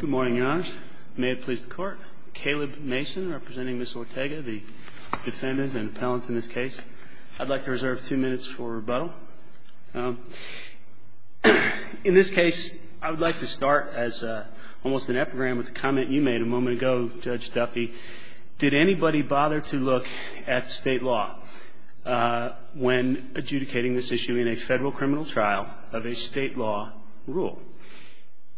Good morning, Your Honors. May it please the Court. Caleb Mason representing Ms. Ortega, the defendant and appellant in this case. I'd like to reserve two minutes for rebuttal. In this case, I would like to start as almost an epigram with a comment you made a moment ago, Judge Duffy. Did anybody bother to look at state law when adjudicating this issue in a federal criminal trial of a state law rule?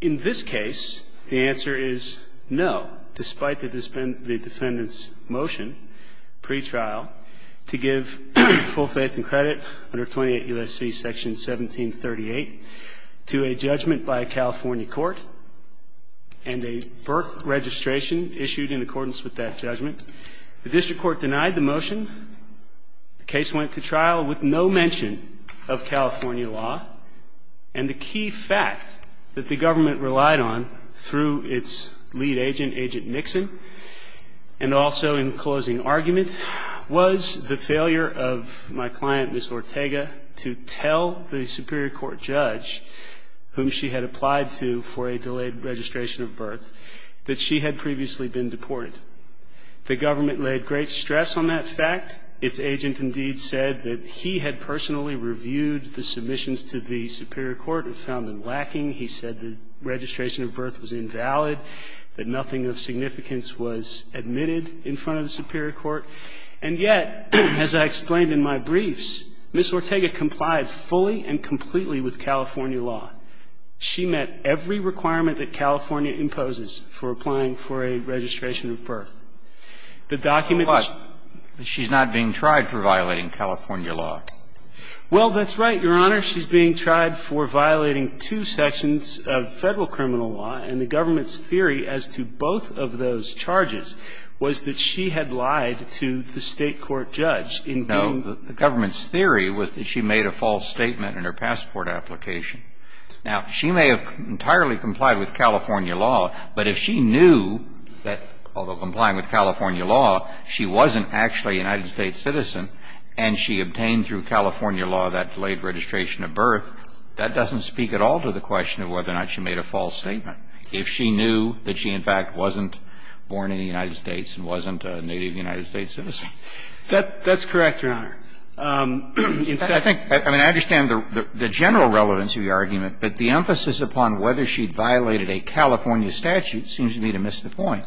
In this case, the answer is no, despite the defendant's motion pre-trial to give full faith and credit under 28 U.S.C. section 1738 to a judgment by a California court and a Burke registration issued in accordance with that judgment. The district court denied the motion. The case went to trial with no mention of California law. And the key fact that the government relied on through its lead agent, Agent Nixon, and also in closing argument was the failure of my client, Ms. Ortega, to tell the superior court judge, whom she had applied to for a delayed registration of birth, that she had previously been deported. The government laid great stress on that fact. Its agent indeed said that he had personally reviewed the submissions to the superior court and found them lacking. He said the registration of birth was invalid, that nothing of significance was admitted in front of the superior court. And yet, as I explained in my briefs, Ms. Ortega complied fully and completely with California law. She met every requirement that California imposes for applying for a registration of birth. The document that she's not being tried for violating California law. Well, that's right, Your Honor. She's being tried for violating two sections of Federal criminal law, and the government's theory as to both of those charges was that she had lied to the State court judge in being the government's theory was that she made a false statement in her passport application. Now, she may have entirely complied with California law, but if she knew that, although complying with California law, she wasn't actually a United States citizen and she obtained through California law that delayed registration of birth, that doesn't speak at all to the question of whether or not she made a false statement if she knew that she in fact wasn't born in the United States and wasn't a native United States citizen. That's correct, Your Honor. In fact, I think, I mean, I understand the general relevance of your argument, but the emphasis upon whether she'd violated a California statute seems to me to miss the point.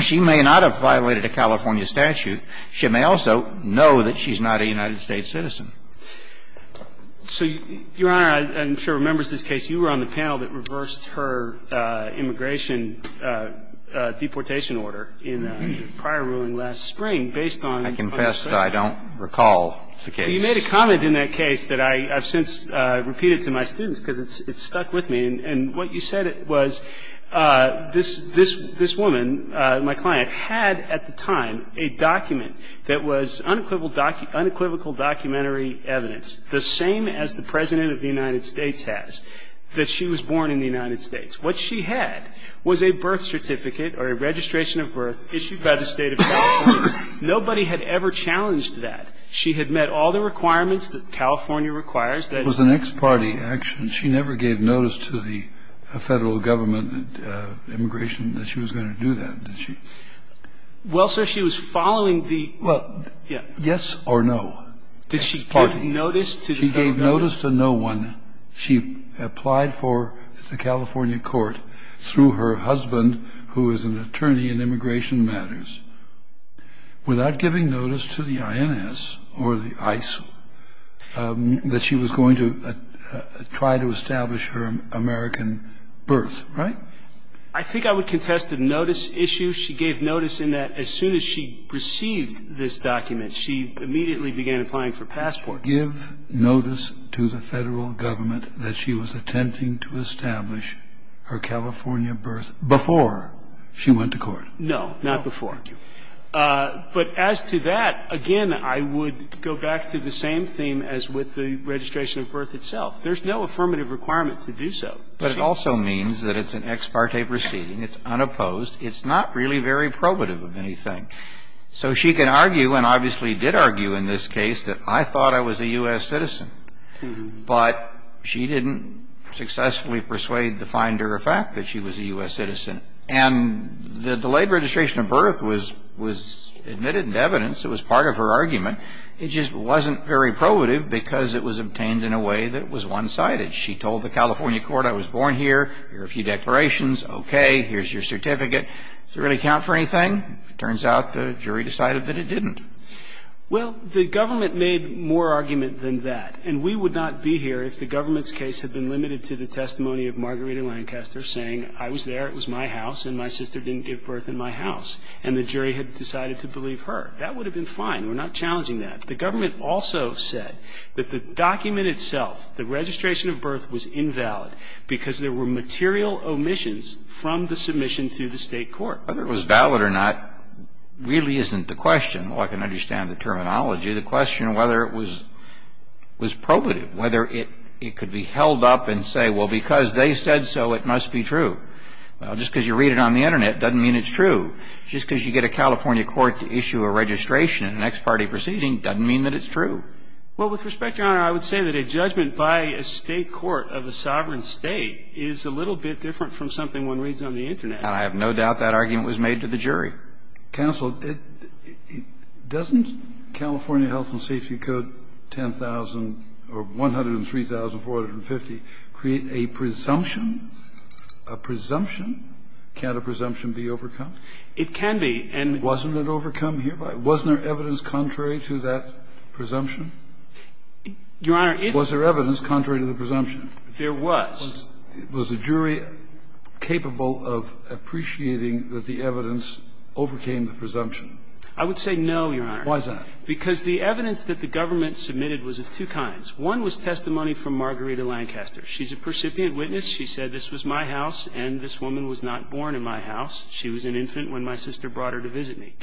She may not have violated a California statute. She may also know that she's not a United States citizen. So, Your Honor, I'm sure members of this case, you were on the panel that reversed her immigration deportation order in the prior ruling last spring based on what was said. I confess I don't recall the case. You made a comment in that case that I have since repeated to my students because it's stuck with me. And what you said was this woman, my client, had at the time a document that was unequivocal documentary evidence, the same as the President of the United States has, that she was born in the United States. What she had was a birth certificate or a registration of birth issued by the State of California. Nobody had ever challenged that. She had met all the requirements that California requires. That was an ex parte action. She never gave notice to the Federal Government of Immigration that she was going to do that, did she? Well, sir, she was following the yes or no. Did she give notice to the Federal Government? She gave notice to no one. She applied for the California court through her husband, who is an attorney in immigration matters, without giving notice to the INS or the ISIL that she was going to try to establish her American birth, right? I think I would contest the notice issue. She gave notice in that as soon as she received this document, she immediately began applying for passports. Give notice to the Federal Government that she was attempting to establish her California birth before she went to court. No, not before. But as to that, again, I would go back to the same theme as with the registration of birth itself. There's no affirmative requirement to do so. But it also means that it's an ex parte proceeding. It's unopposed. It's not really very probative of anything. So she can argue, and obviously did argue in this case, that I thought I was a U.S. citizen. But she didn't successfully persuade the finder of fact that she was a U.S. citizen. And the delayed registration of birth was admitted in evidence. It was part of her argument. It just wasn't very probative because it was obtained in a way that was one-sided. She told the California court, I was born here. Here are a few declarations. Okay. Here's your certificate. Does it really count for anything? It turns out the jury decided that it didn't. Well, the government made more argument than that. And we would not be here if the government's case had been limited to the testimony of Margarita Lancaster saying, I was there, it was my house, and my sister didn't give birth in my house. And the jury had decided to believe her. That would have been fine. We're not challenging that. The government also said that the document itself, the registration of birth, was invalid because there were material omissions from the submission to the State court. Whether it was valid or not really isn't the question. Well, I can understand the terminology. The question whether it was probative, whether it could be held up and say, well, because they said so, it must be true. Well, just because you read it on the Internet doesn't mean it's true. Just because you get a California court to issue a registration in an ex parte proceeding doesn't mean that it's true. Well, with respect, Your Honor, I would say that a judgment by a State court of a sovereign State is a little bit different from something one reads on the Internet. And I have no doubt that argument was made to the jury. Kennedy, I'm sorry. Counsel, doesn't California Health and Safety Code 10,000 or 103,450 create a presumption? A presumption? Can't a presumption be overcome? It can be. And wasn't it overcome hereby? Wasn't there evidence contrary to that presumption? Your Honor, if there was. Was there evidence contrary to the presumption? There was. Was the jury capable of appreciating that the evidence overcame the presumption? I would say no, Your Honor. Why is that? Because the evidence that the government submitted was of two kinds. One was testimony from Margarita Lancaster. She's a percipient witness. She said, this was my house and this woman was not born in my house. She was an infant when my sister brought her to visit me.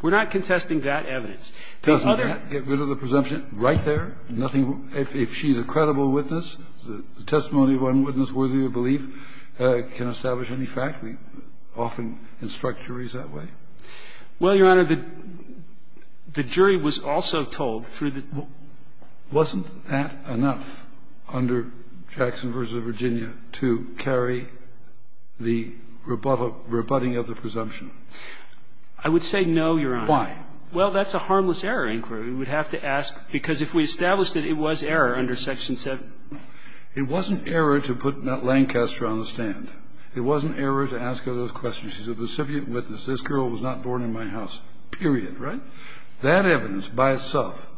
We're not contesting that evidence. Doesn't that get rid of the presumption right there? If she's a credible witness, the testimony of one witness worthy of belief can establish any fact. We often instruct juries that way. Well, Your Honor, the jury was also told through the ---- Wasn't that enough under Jackson v. Virginia to carry the rebuttal, rebutting of the presumption? I would say no, Your Honor. Well, that's a harmless error inquiry. We would have to ask, because if we established that it was error under Section 7. It wasn't error to put Lancaster on the stand. It wasn't error to ask her those questions. She's a percipient witness. This girl was not born in my house, period, right? That evidence by itself,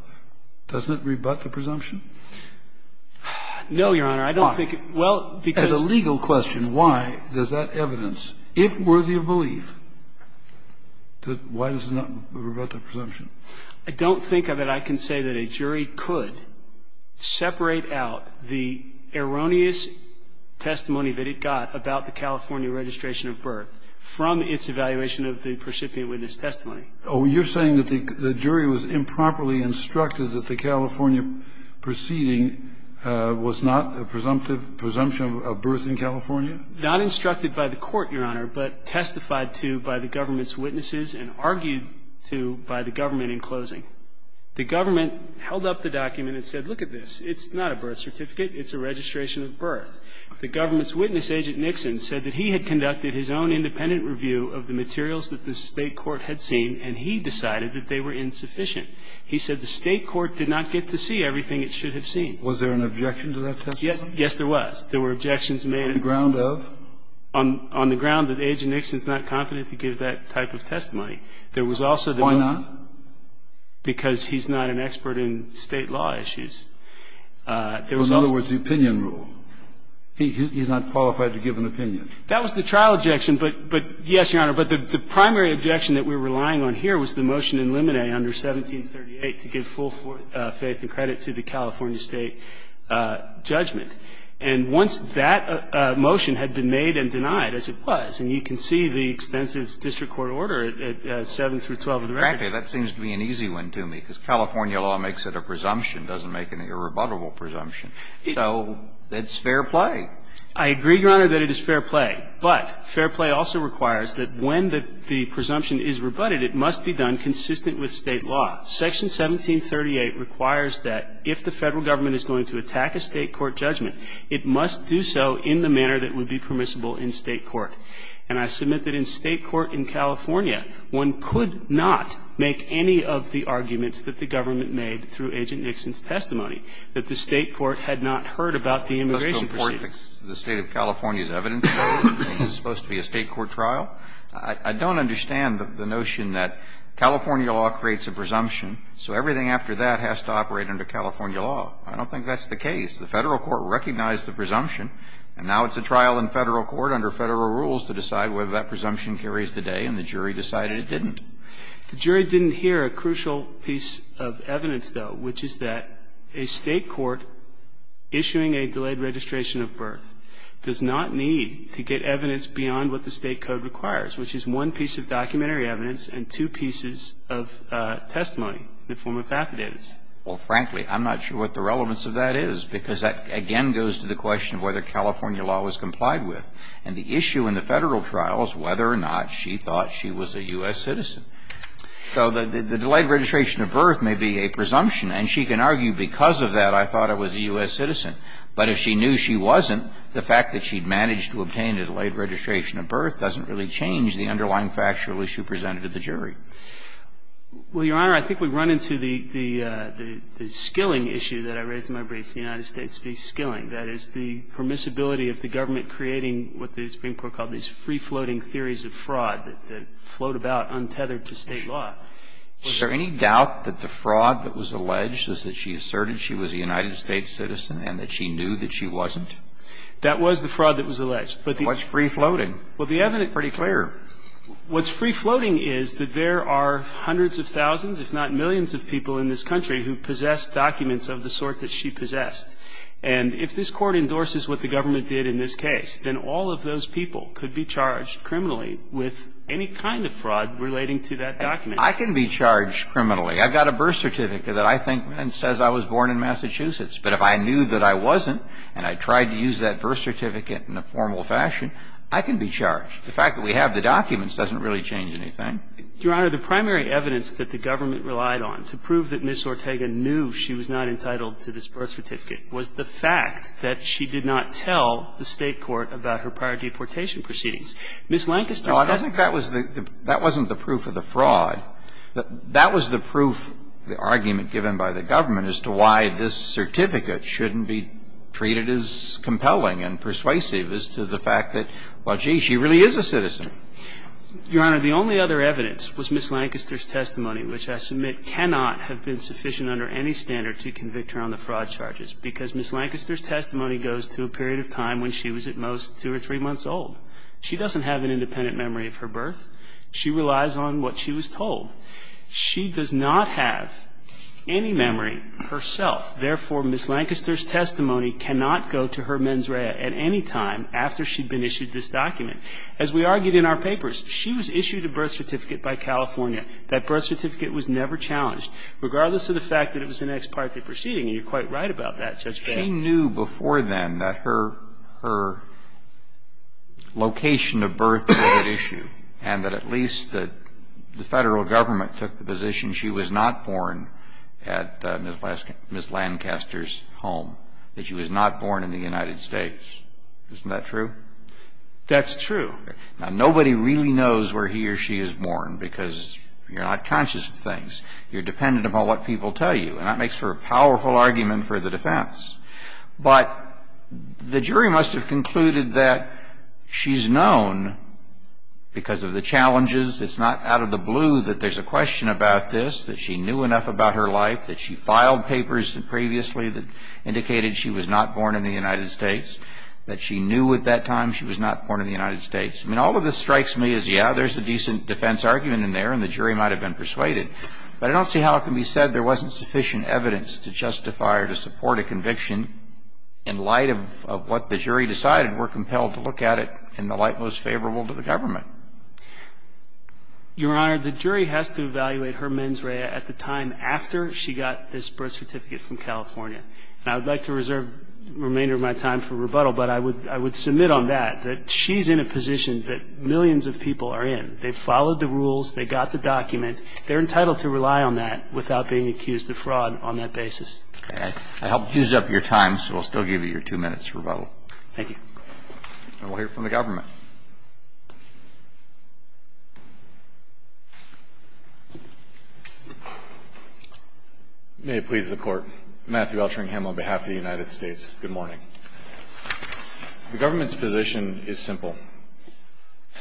doesn't it rebut the presumption? No, Your Honor. I don't think it ---- As a legal question, why does that evidence, if worthy of belief, why does it not rebut the presumption? I don't think of it, I can say, that a jury could separate out the erroneous testimony that it got about the California registration of birth from its evaluation of the percipient witness testimony. Oh, you're saying that the jury was improperly instructed that the California proceeding was not a presumptive presumption of birth in California? Not instructed by the Court, Your Honor, but testified to by the government's testimony in closing. The government held up the document and said, look at this. It's not a birth certificate. It's a registration of birth. The government's witness, Agent Nixon, said that he had conducted his own independent review of the materials that the State court had seen, and he decided that they were insufficient. He said the State court did not get to see everything it should have seen. Was there an objection to that testimony? Yes, there was. There were objections made ---- On the ground of? On the ground that Agent Nixon's not competent to give that type of testimony. There was also the ---- Why not? Because he's not an expert in State law issues. There was also ---- In other words, the opinion rule. He's not qualified to give an opinion. That was the trial objection, but yes, Your Honor. But the primary objection that we're relying on here was the motion in Limine under 1738 to give full faith and credit to the California State judgment. And once that motion had been made and denied, as it was, and you can see the extensive district court order at 7 through 12 of the record. Exactly. That seems to be an easy one to me, because California law makes it a presumption. It doesn't make it a rebuttable presumption. So it's fair play. I agree, Your Honor, that it is fair play. But fair play also requires that when the presumption is rebutted, it must be done consistent with State law. Section 1738 requires that if the Federal government is going to attack a State court judgment, it must do so in the manner that would be permissible in State court. And I submit that in State court in California, one could not make any of the arguments that the government made through Agent Nixon's testimony, that the State court had not heard about the immigration proceedings. The State of California's evidence is supposed to be a State court trial. I don't understand the notion that California law creates a presumption, so everything after that has to operate under California law. I don't think that's the case. The Federal court recognized the presumption, and now it's a trial in Federal court under Federal rules to decide whether that presumption carries the day, and the jury decided it didn't. The jury didn't hear a crucial piece of evidence, though, which is that a State court issuing a delayed registration of birth does not need to get evidence beyond what the State code requires, which is one piece of documentary evidence and two pieces of testimony in the form of affidavits. Well, frankly, I'm not sure what the relevance of that is, because that, again, goes to the question of whether California law was complied with. And the issue in the Federal trial is whether or not she thought she was a U.S. citizen. So the delayed registration of birth may be a presumption, and she can argue, because of that, I thought I was a U.S. citizen. But if she knew she wasn't, the fact that she'd managed to obtain a delayed registration of birth doesn't really change the underlying factual issue presented to the jury. Well, Your Honor, I think we run into the skilling issue that I raised in my brief with the United States v. Skilling, that is, the permissibility of the government creating what the Supreme Court called these free-floating theories of fraud that float about untethered to State law. Was there any doubt that the fraud that was alleged was that she asserted she was a United States citizen and that she knew that she wasn't? That was the fraud that was alleged. But the evidence is pretty clear. What's free-floating is that there are hundreds of thousands, if not millions, of people in this country who possess documents of the sort that she possessed. And if this Court endorses what the government did in this case, then all of those people could be charged criminally with any kind of fraud relating to that document. I can be charged criminally. I've got a birth certificate that I think says I was born in Massachusetts. But if I knew that I wasn't and I tried to use that birth certificate in a formal fashion, I can be charged. The fact that we have the documents doesn't really change anything. Your Honor, the primary evidence that the government relied on to prove that Ms. Ortega knew she was not entitled to this birth certificate was the fact that she did not tell the State court about her prior deportation proceedings. Ms. Lancaster said that. No, I don't think that was the – that wasn't the proof of the fraud. That was the proof, the argument given by the government as to why this certificate shouldn't be treated as compelling and persuasive as to the fact that, well, gee, she really is a citizen. Your Honor, the only other evidence was Ms. Lancaster's testimony, which I submit cannot have been sufficient under any standard to convict her on the fraud charges, because Ms. Lancaster's testimony goes to a period of time when she was at most two or three months old. She doesn't have an independent memory of her birth. She relies on what she was told. She does not have any memory herself. Therefore, Ms. Lancaster's testimony cannot go to her mens rea at any time after she'd been issued this document. As we argued in our papers, she was issued a birth certificate by California. That birth certificate was never challenged, regardless of the fact that it was an ex parte proceeding. And you're quite right about that, Judge Gabbard. She knew before then that her – her location of birth was at issue and that at least the Federal government took the position she was not born at Ms. Lancaster's home, that she was not born in the United States. Isn't that true? That's true. Now, nobody really knows where he or she is born, because you're not conscious of things. You're dependent upon what people tell you. And that makes for a powerful argument for the defense. But the jury must have concluded that she's known because of the challenges. It's not out of the blue that there's a question about this, that she knew enough about her life, that she filed papers previously that indicated she was not born in the United States. That she knew at that time she was not born in the United States. I mean, all of this strikes me as, yeah, there's a decent defense argument in there and the jury might have been persuaded. But I don't see how it can be said there wasn't sufficient evidence to justify or to support a conviction in light of what the jury decided. We're compelled to look at it in the light most favorable to the government. Your Honor, the jury has to evaluate her mens rea at the time after she got this birth certificate from California. And I would like to reserve the remainder of my time for rebuttal, but I would submit on that, that she's in a position that millions of people are in. They followed the rules. They got the document. They're entitled to rely on that without being accused of fraud on that basis. Okay. I helped use up your time, so I'll still give you your two minutes for rebuttal. Thank you. And we'll hear from the government. May it please the Court. Matthew L. Trangham on behalf of the United States. Good morning. The government's position is simple.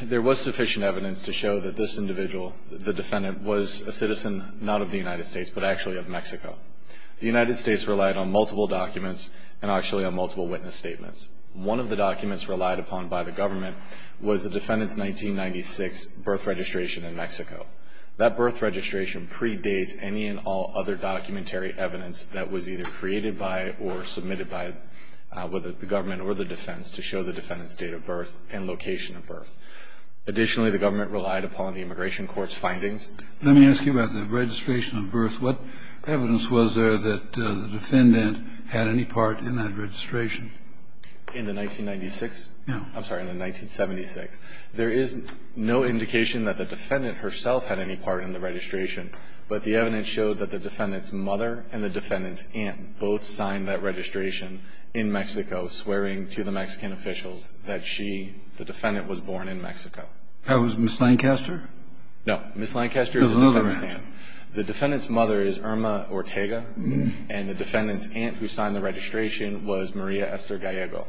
There was sufficient evidence to show that this individual, the defendant, was a citizen not of the United States, but actually of Mexico. The United States relied on multiple documents and actually on multiple witness One of the documents relied upon by the government was that the defendant 1996 birth registration in Mexico. That birth registration predates any and all other documentary evidence that was either created by or submitted by whether the government or the defense to show the defendant's date of birth and location of birth. Additionally, the government relied upon the immigration court's findings. Let me ask you about the registration of birth. What evidence was there that the defendant had any part in that registration? In the 1996? No. I'm sorry, in the 1976. There is no indication that the defendant herself had any part in the registration, but the evidence showed that the defendant's mother and the defendant's aunt both signed that registration in Mexico swearing to the Mexican officials that she, the defendant, was born in Mexico. That was Ms. Lancaster? No. Ms. Lancaster is the defendant's aunt. The defendant's mother is Irma Ortega and the defendant's aunt who signed the registration was Maria Esther Gallego.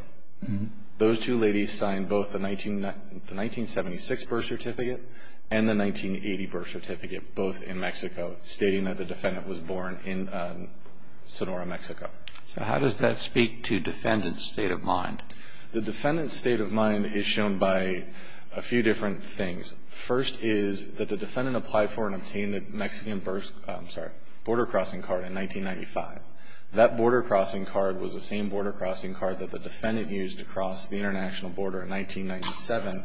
Those two ladies signed both the 1976 birth certificate and the 1980 birth certificate, both in Mexico, stating that the defendant was born in Sonora, Mexico. So how does that speak to defendant's state of mind? The defendant's state of mind is shown by a few different things. First is that the defendant applied for and obtained a Mexican birth border-crossing card in 1995. That border-crossing card was the same border-crossing card that the defendant used to cross the international border in 1997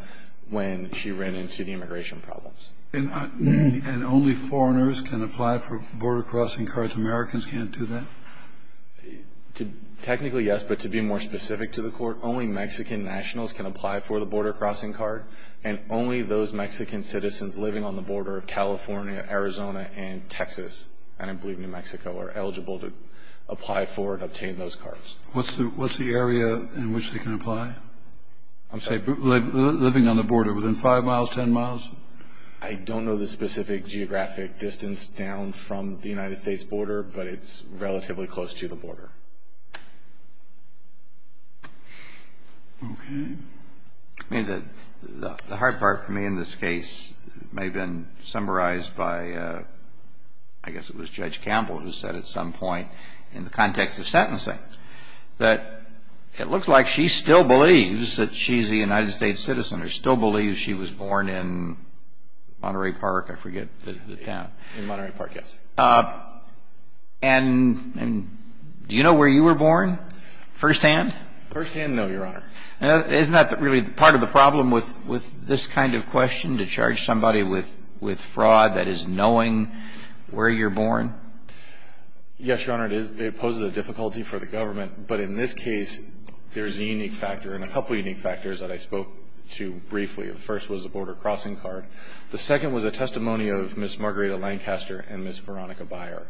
when she ran into the immigration problems. And only foreigners can apply for border-crossing cards? Americans can't do that? Technically, yes. But to be more specific to the Court, only Mexican nationals can apply for the border-crossing card and only those Mexican citizens living on the border of California, Arizona, and Texas, and I believe New Mexico, are eligible to apply for and obtain those cards. What's the area in which they can apply? I'm sorry. Living on the border, within 5 miles, 10 miles? I don't know the specific geographic distance down from the United States border, but it's relatively close to the border. Okay. The hard part for me in this case may have been summarized by, I guess it was Judge Campbell who said at some point in the context of sentencing that it looks like she still believes that she's a United States citizen or still believes she was born in Monterey Park, I forget the town. In Monterey Park, yes. And do you know where you were born firsthand? Firsthand, no, Your Honor. Now, isn't that really part of the problem with this kind of question, to charge somebody with fraud that is knowing where you're born? Yes, Your Honor, it is. It poses a difficulty for the government, but in this case, there is a unique factor and a couple of unique factors that I spoke to briefly. The first was the border-crossing card. The second was a testimony of Ms. Margarita Lancaster and Ms. Veronica Beyer.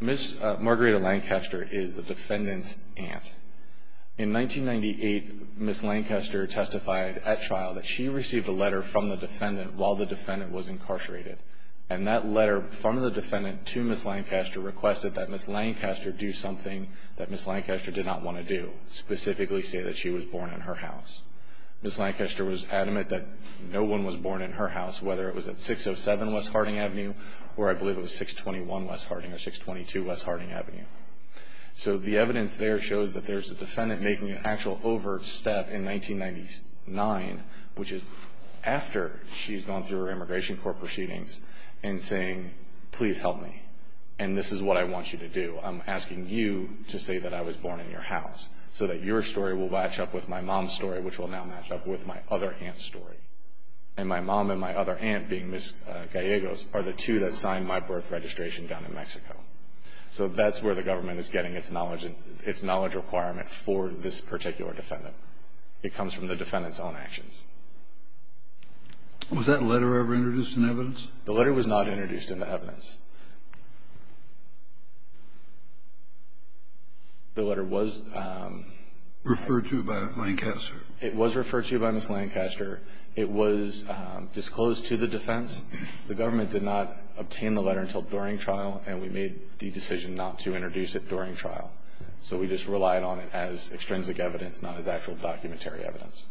Ms. Margarita Lancaster is the defendant's aunt. In 1998, Ms. Lancaster testified at trial that she received a letter from the defendant while the defendant was incarcerated, and that letter from the defendant to Ms. Lancaster requested that Ms. Lancaster do something that Ms. Lancaster did not want to do, specifically say that she was born in her house. Ms. Lancaster was adamant that no one was born in her house, whether it was at 607 West Harding Avenue or I believe it was 621 West Harding or 622 West Harding Avenue. So the evidence there shows that there's a defendant making an actual overstep in 1999, which is after she's gone through her immigration court proceedings and saying, please help me, and this is what I want you to do. I'm asking you to say that I was born in your house so that your story will match up with my mom's story, which will now match up with my other aunt's story. And my mom and my other aunt, being Ms. Gallegos, are the two that signed my birth registration down in Mexico. So that's where the government is getting its knowledge requirement for this particular defendant. It comes from the defendant's own actions. Was that letter ever introduced in evidence? The letter was not introduced in the evidence. The letter was... Referred to by Ms. Lancaster. It was referred to by Ms. Lancaster. It was disclosed to the defense. The government did not obtain the letter until during trial, and we made the decision not to introduce it during trial. So we just relied on it as extrinsic evidence, not as actual documentary evidence.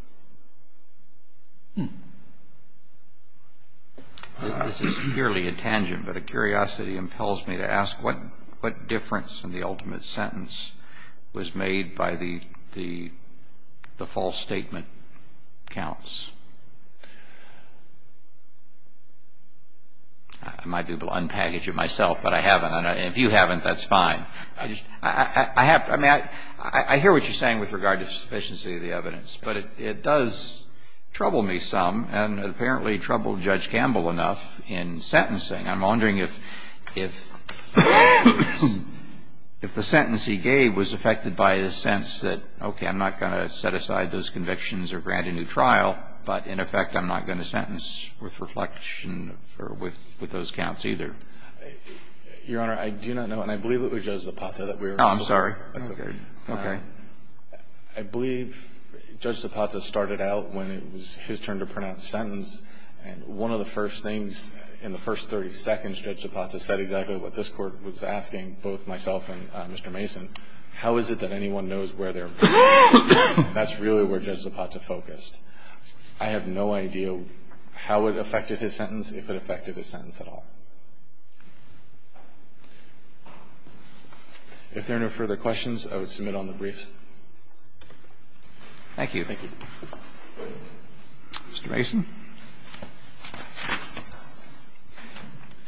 This is merely a tangent, but a curiosity impels me to ask, what difference in the ultimate sentence was made by the false statement counts? I might be able to unpackage it myself, but I haven't. And if you haven't, that's fine. I hear what you're saying with regard to sufficiency of the evidence, but it does trouble me some, and apparently troubled Judge Campbell enough in sentencing. I'm wondering if the sentence he gave was affected by his sense that, okay, I'm not going to set aside those convictions or grant a new trial, but in effect I'm not going to sentence with reflection or with those counts either. Your Honor, I do not know, and I believe it was Judge Zapata that we were talking about. Oh, I'm sorry. That's okay. Okay. I believe Judge Zapata started out when it was his turn to pronounce the sentence, and one of the first things in the first 30 seconds, Judge Zapata said exactly what this Court was asking both myself and Mr. Mason. How is it that anyone knows where they're... That's really where Judge Zapata focused. I have no idea how it affected his sentence, if it affected his sentence at all. If there are no further questions, I would submit on the briefs. Thank you. Thank you. Mr. Mason.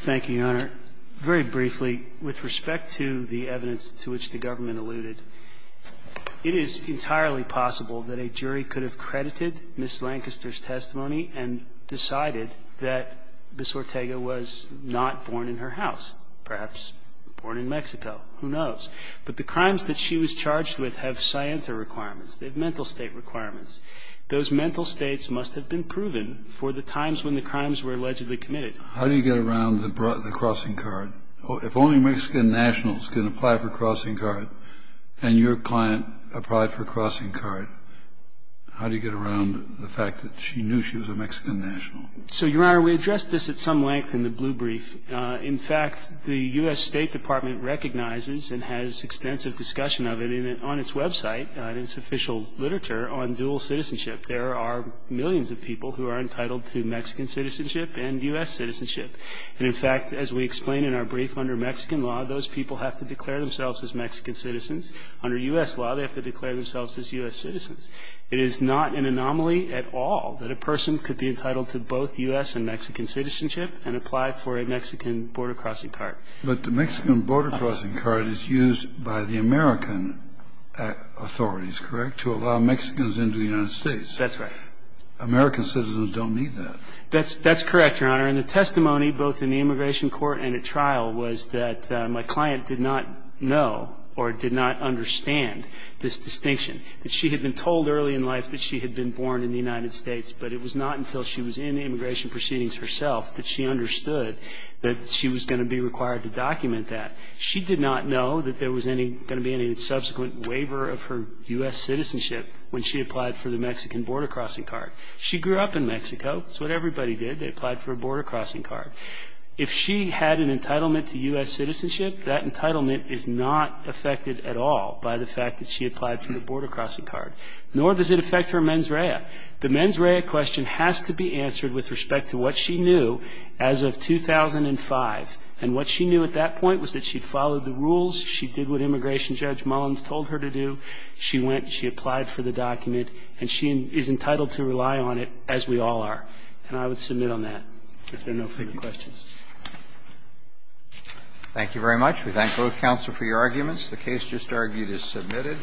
Thank you, Your Honor. Very briefly, with respect to the evidence to which the government alluded, it is entirely possible that a jury could have credited Ms. Lancaster's testimony and decided that Ms. Ortega was not born in her house, perhaps born in Mexico. Who knows? But the crimes that she was charged with have scienta requirements. They have mental state requirements. Those mental states must have been proven for the times when the crimes were allegedly committed. How do you get around the crossing card? If only Mexican nationals can apply for a crossing card, and your client applied for a crossing card, how do you get around the fact that she knew she was a Mexican national? So, Your Honor, we addressed this at some length in the blue brief. In fact, the U.S. State Department recognizes and has extensive discussion of it on its website, in its official literature, on dual citizenship. There are millions of people who are entitled to Mexican citizenship and U.S. citizenship. And, in fact, as we explained in our brief, under Mexican law, those people have to declare themselves as Mexican citizens. Under U.S. law, they have to declare themselves as U.S. citizens. It is not an anomaly at all that a person could be entitled to both U.S. and Mexican citizenship and apply for a Mexican border crossing card. But the Mexican border crossing card is used by the American authorities, correct, to allow Mexicans into the United States. That's right. American citizens don't need that. That's correct, Your Honor. And the testimony, both in the immigration court and at trial, was that my client did not know or did not understand this distinction, that she had been told early in life that she had been born in the United States, but it was not until she was in immigration proceedings herself that she understood that she was going to be required to document that. She did not know that there was going to be any subsequent waiver of her U.S. citizenship when she applied for the Mexican border crossing card. She grew up in Mexico. It's what everybody did. They applied for a border crossing card. If she had an entitlement to U.S. citizenship, that entitlement is not affected at all by the fact that she applied for the border crossing card, nor does it affect her mens rea. The mens rea question has to be answered with respect to what she knew as of 2005. And what she knew at that point was that she followed the rules. She did what Immigration Judge Mullins told her to do. She went, she applied for the document, and she is entitled to rely on it, as we all are. And I would submit on that, if there are no further questions. Roberts. Thank you very much. We thank both counsel for your arguments. The case just argued is submitted.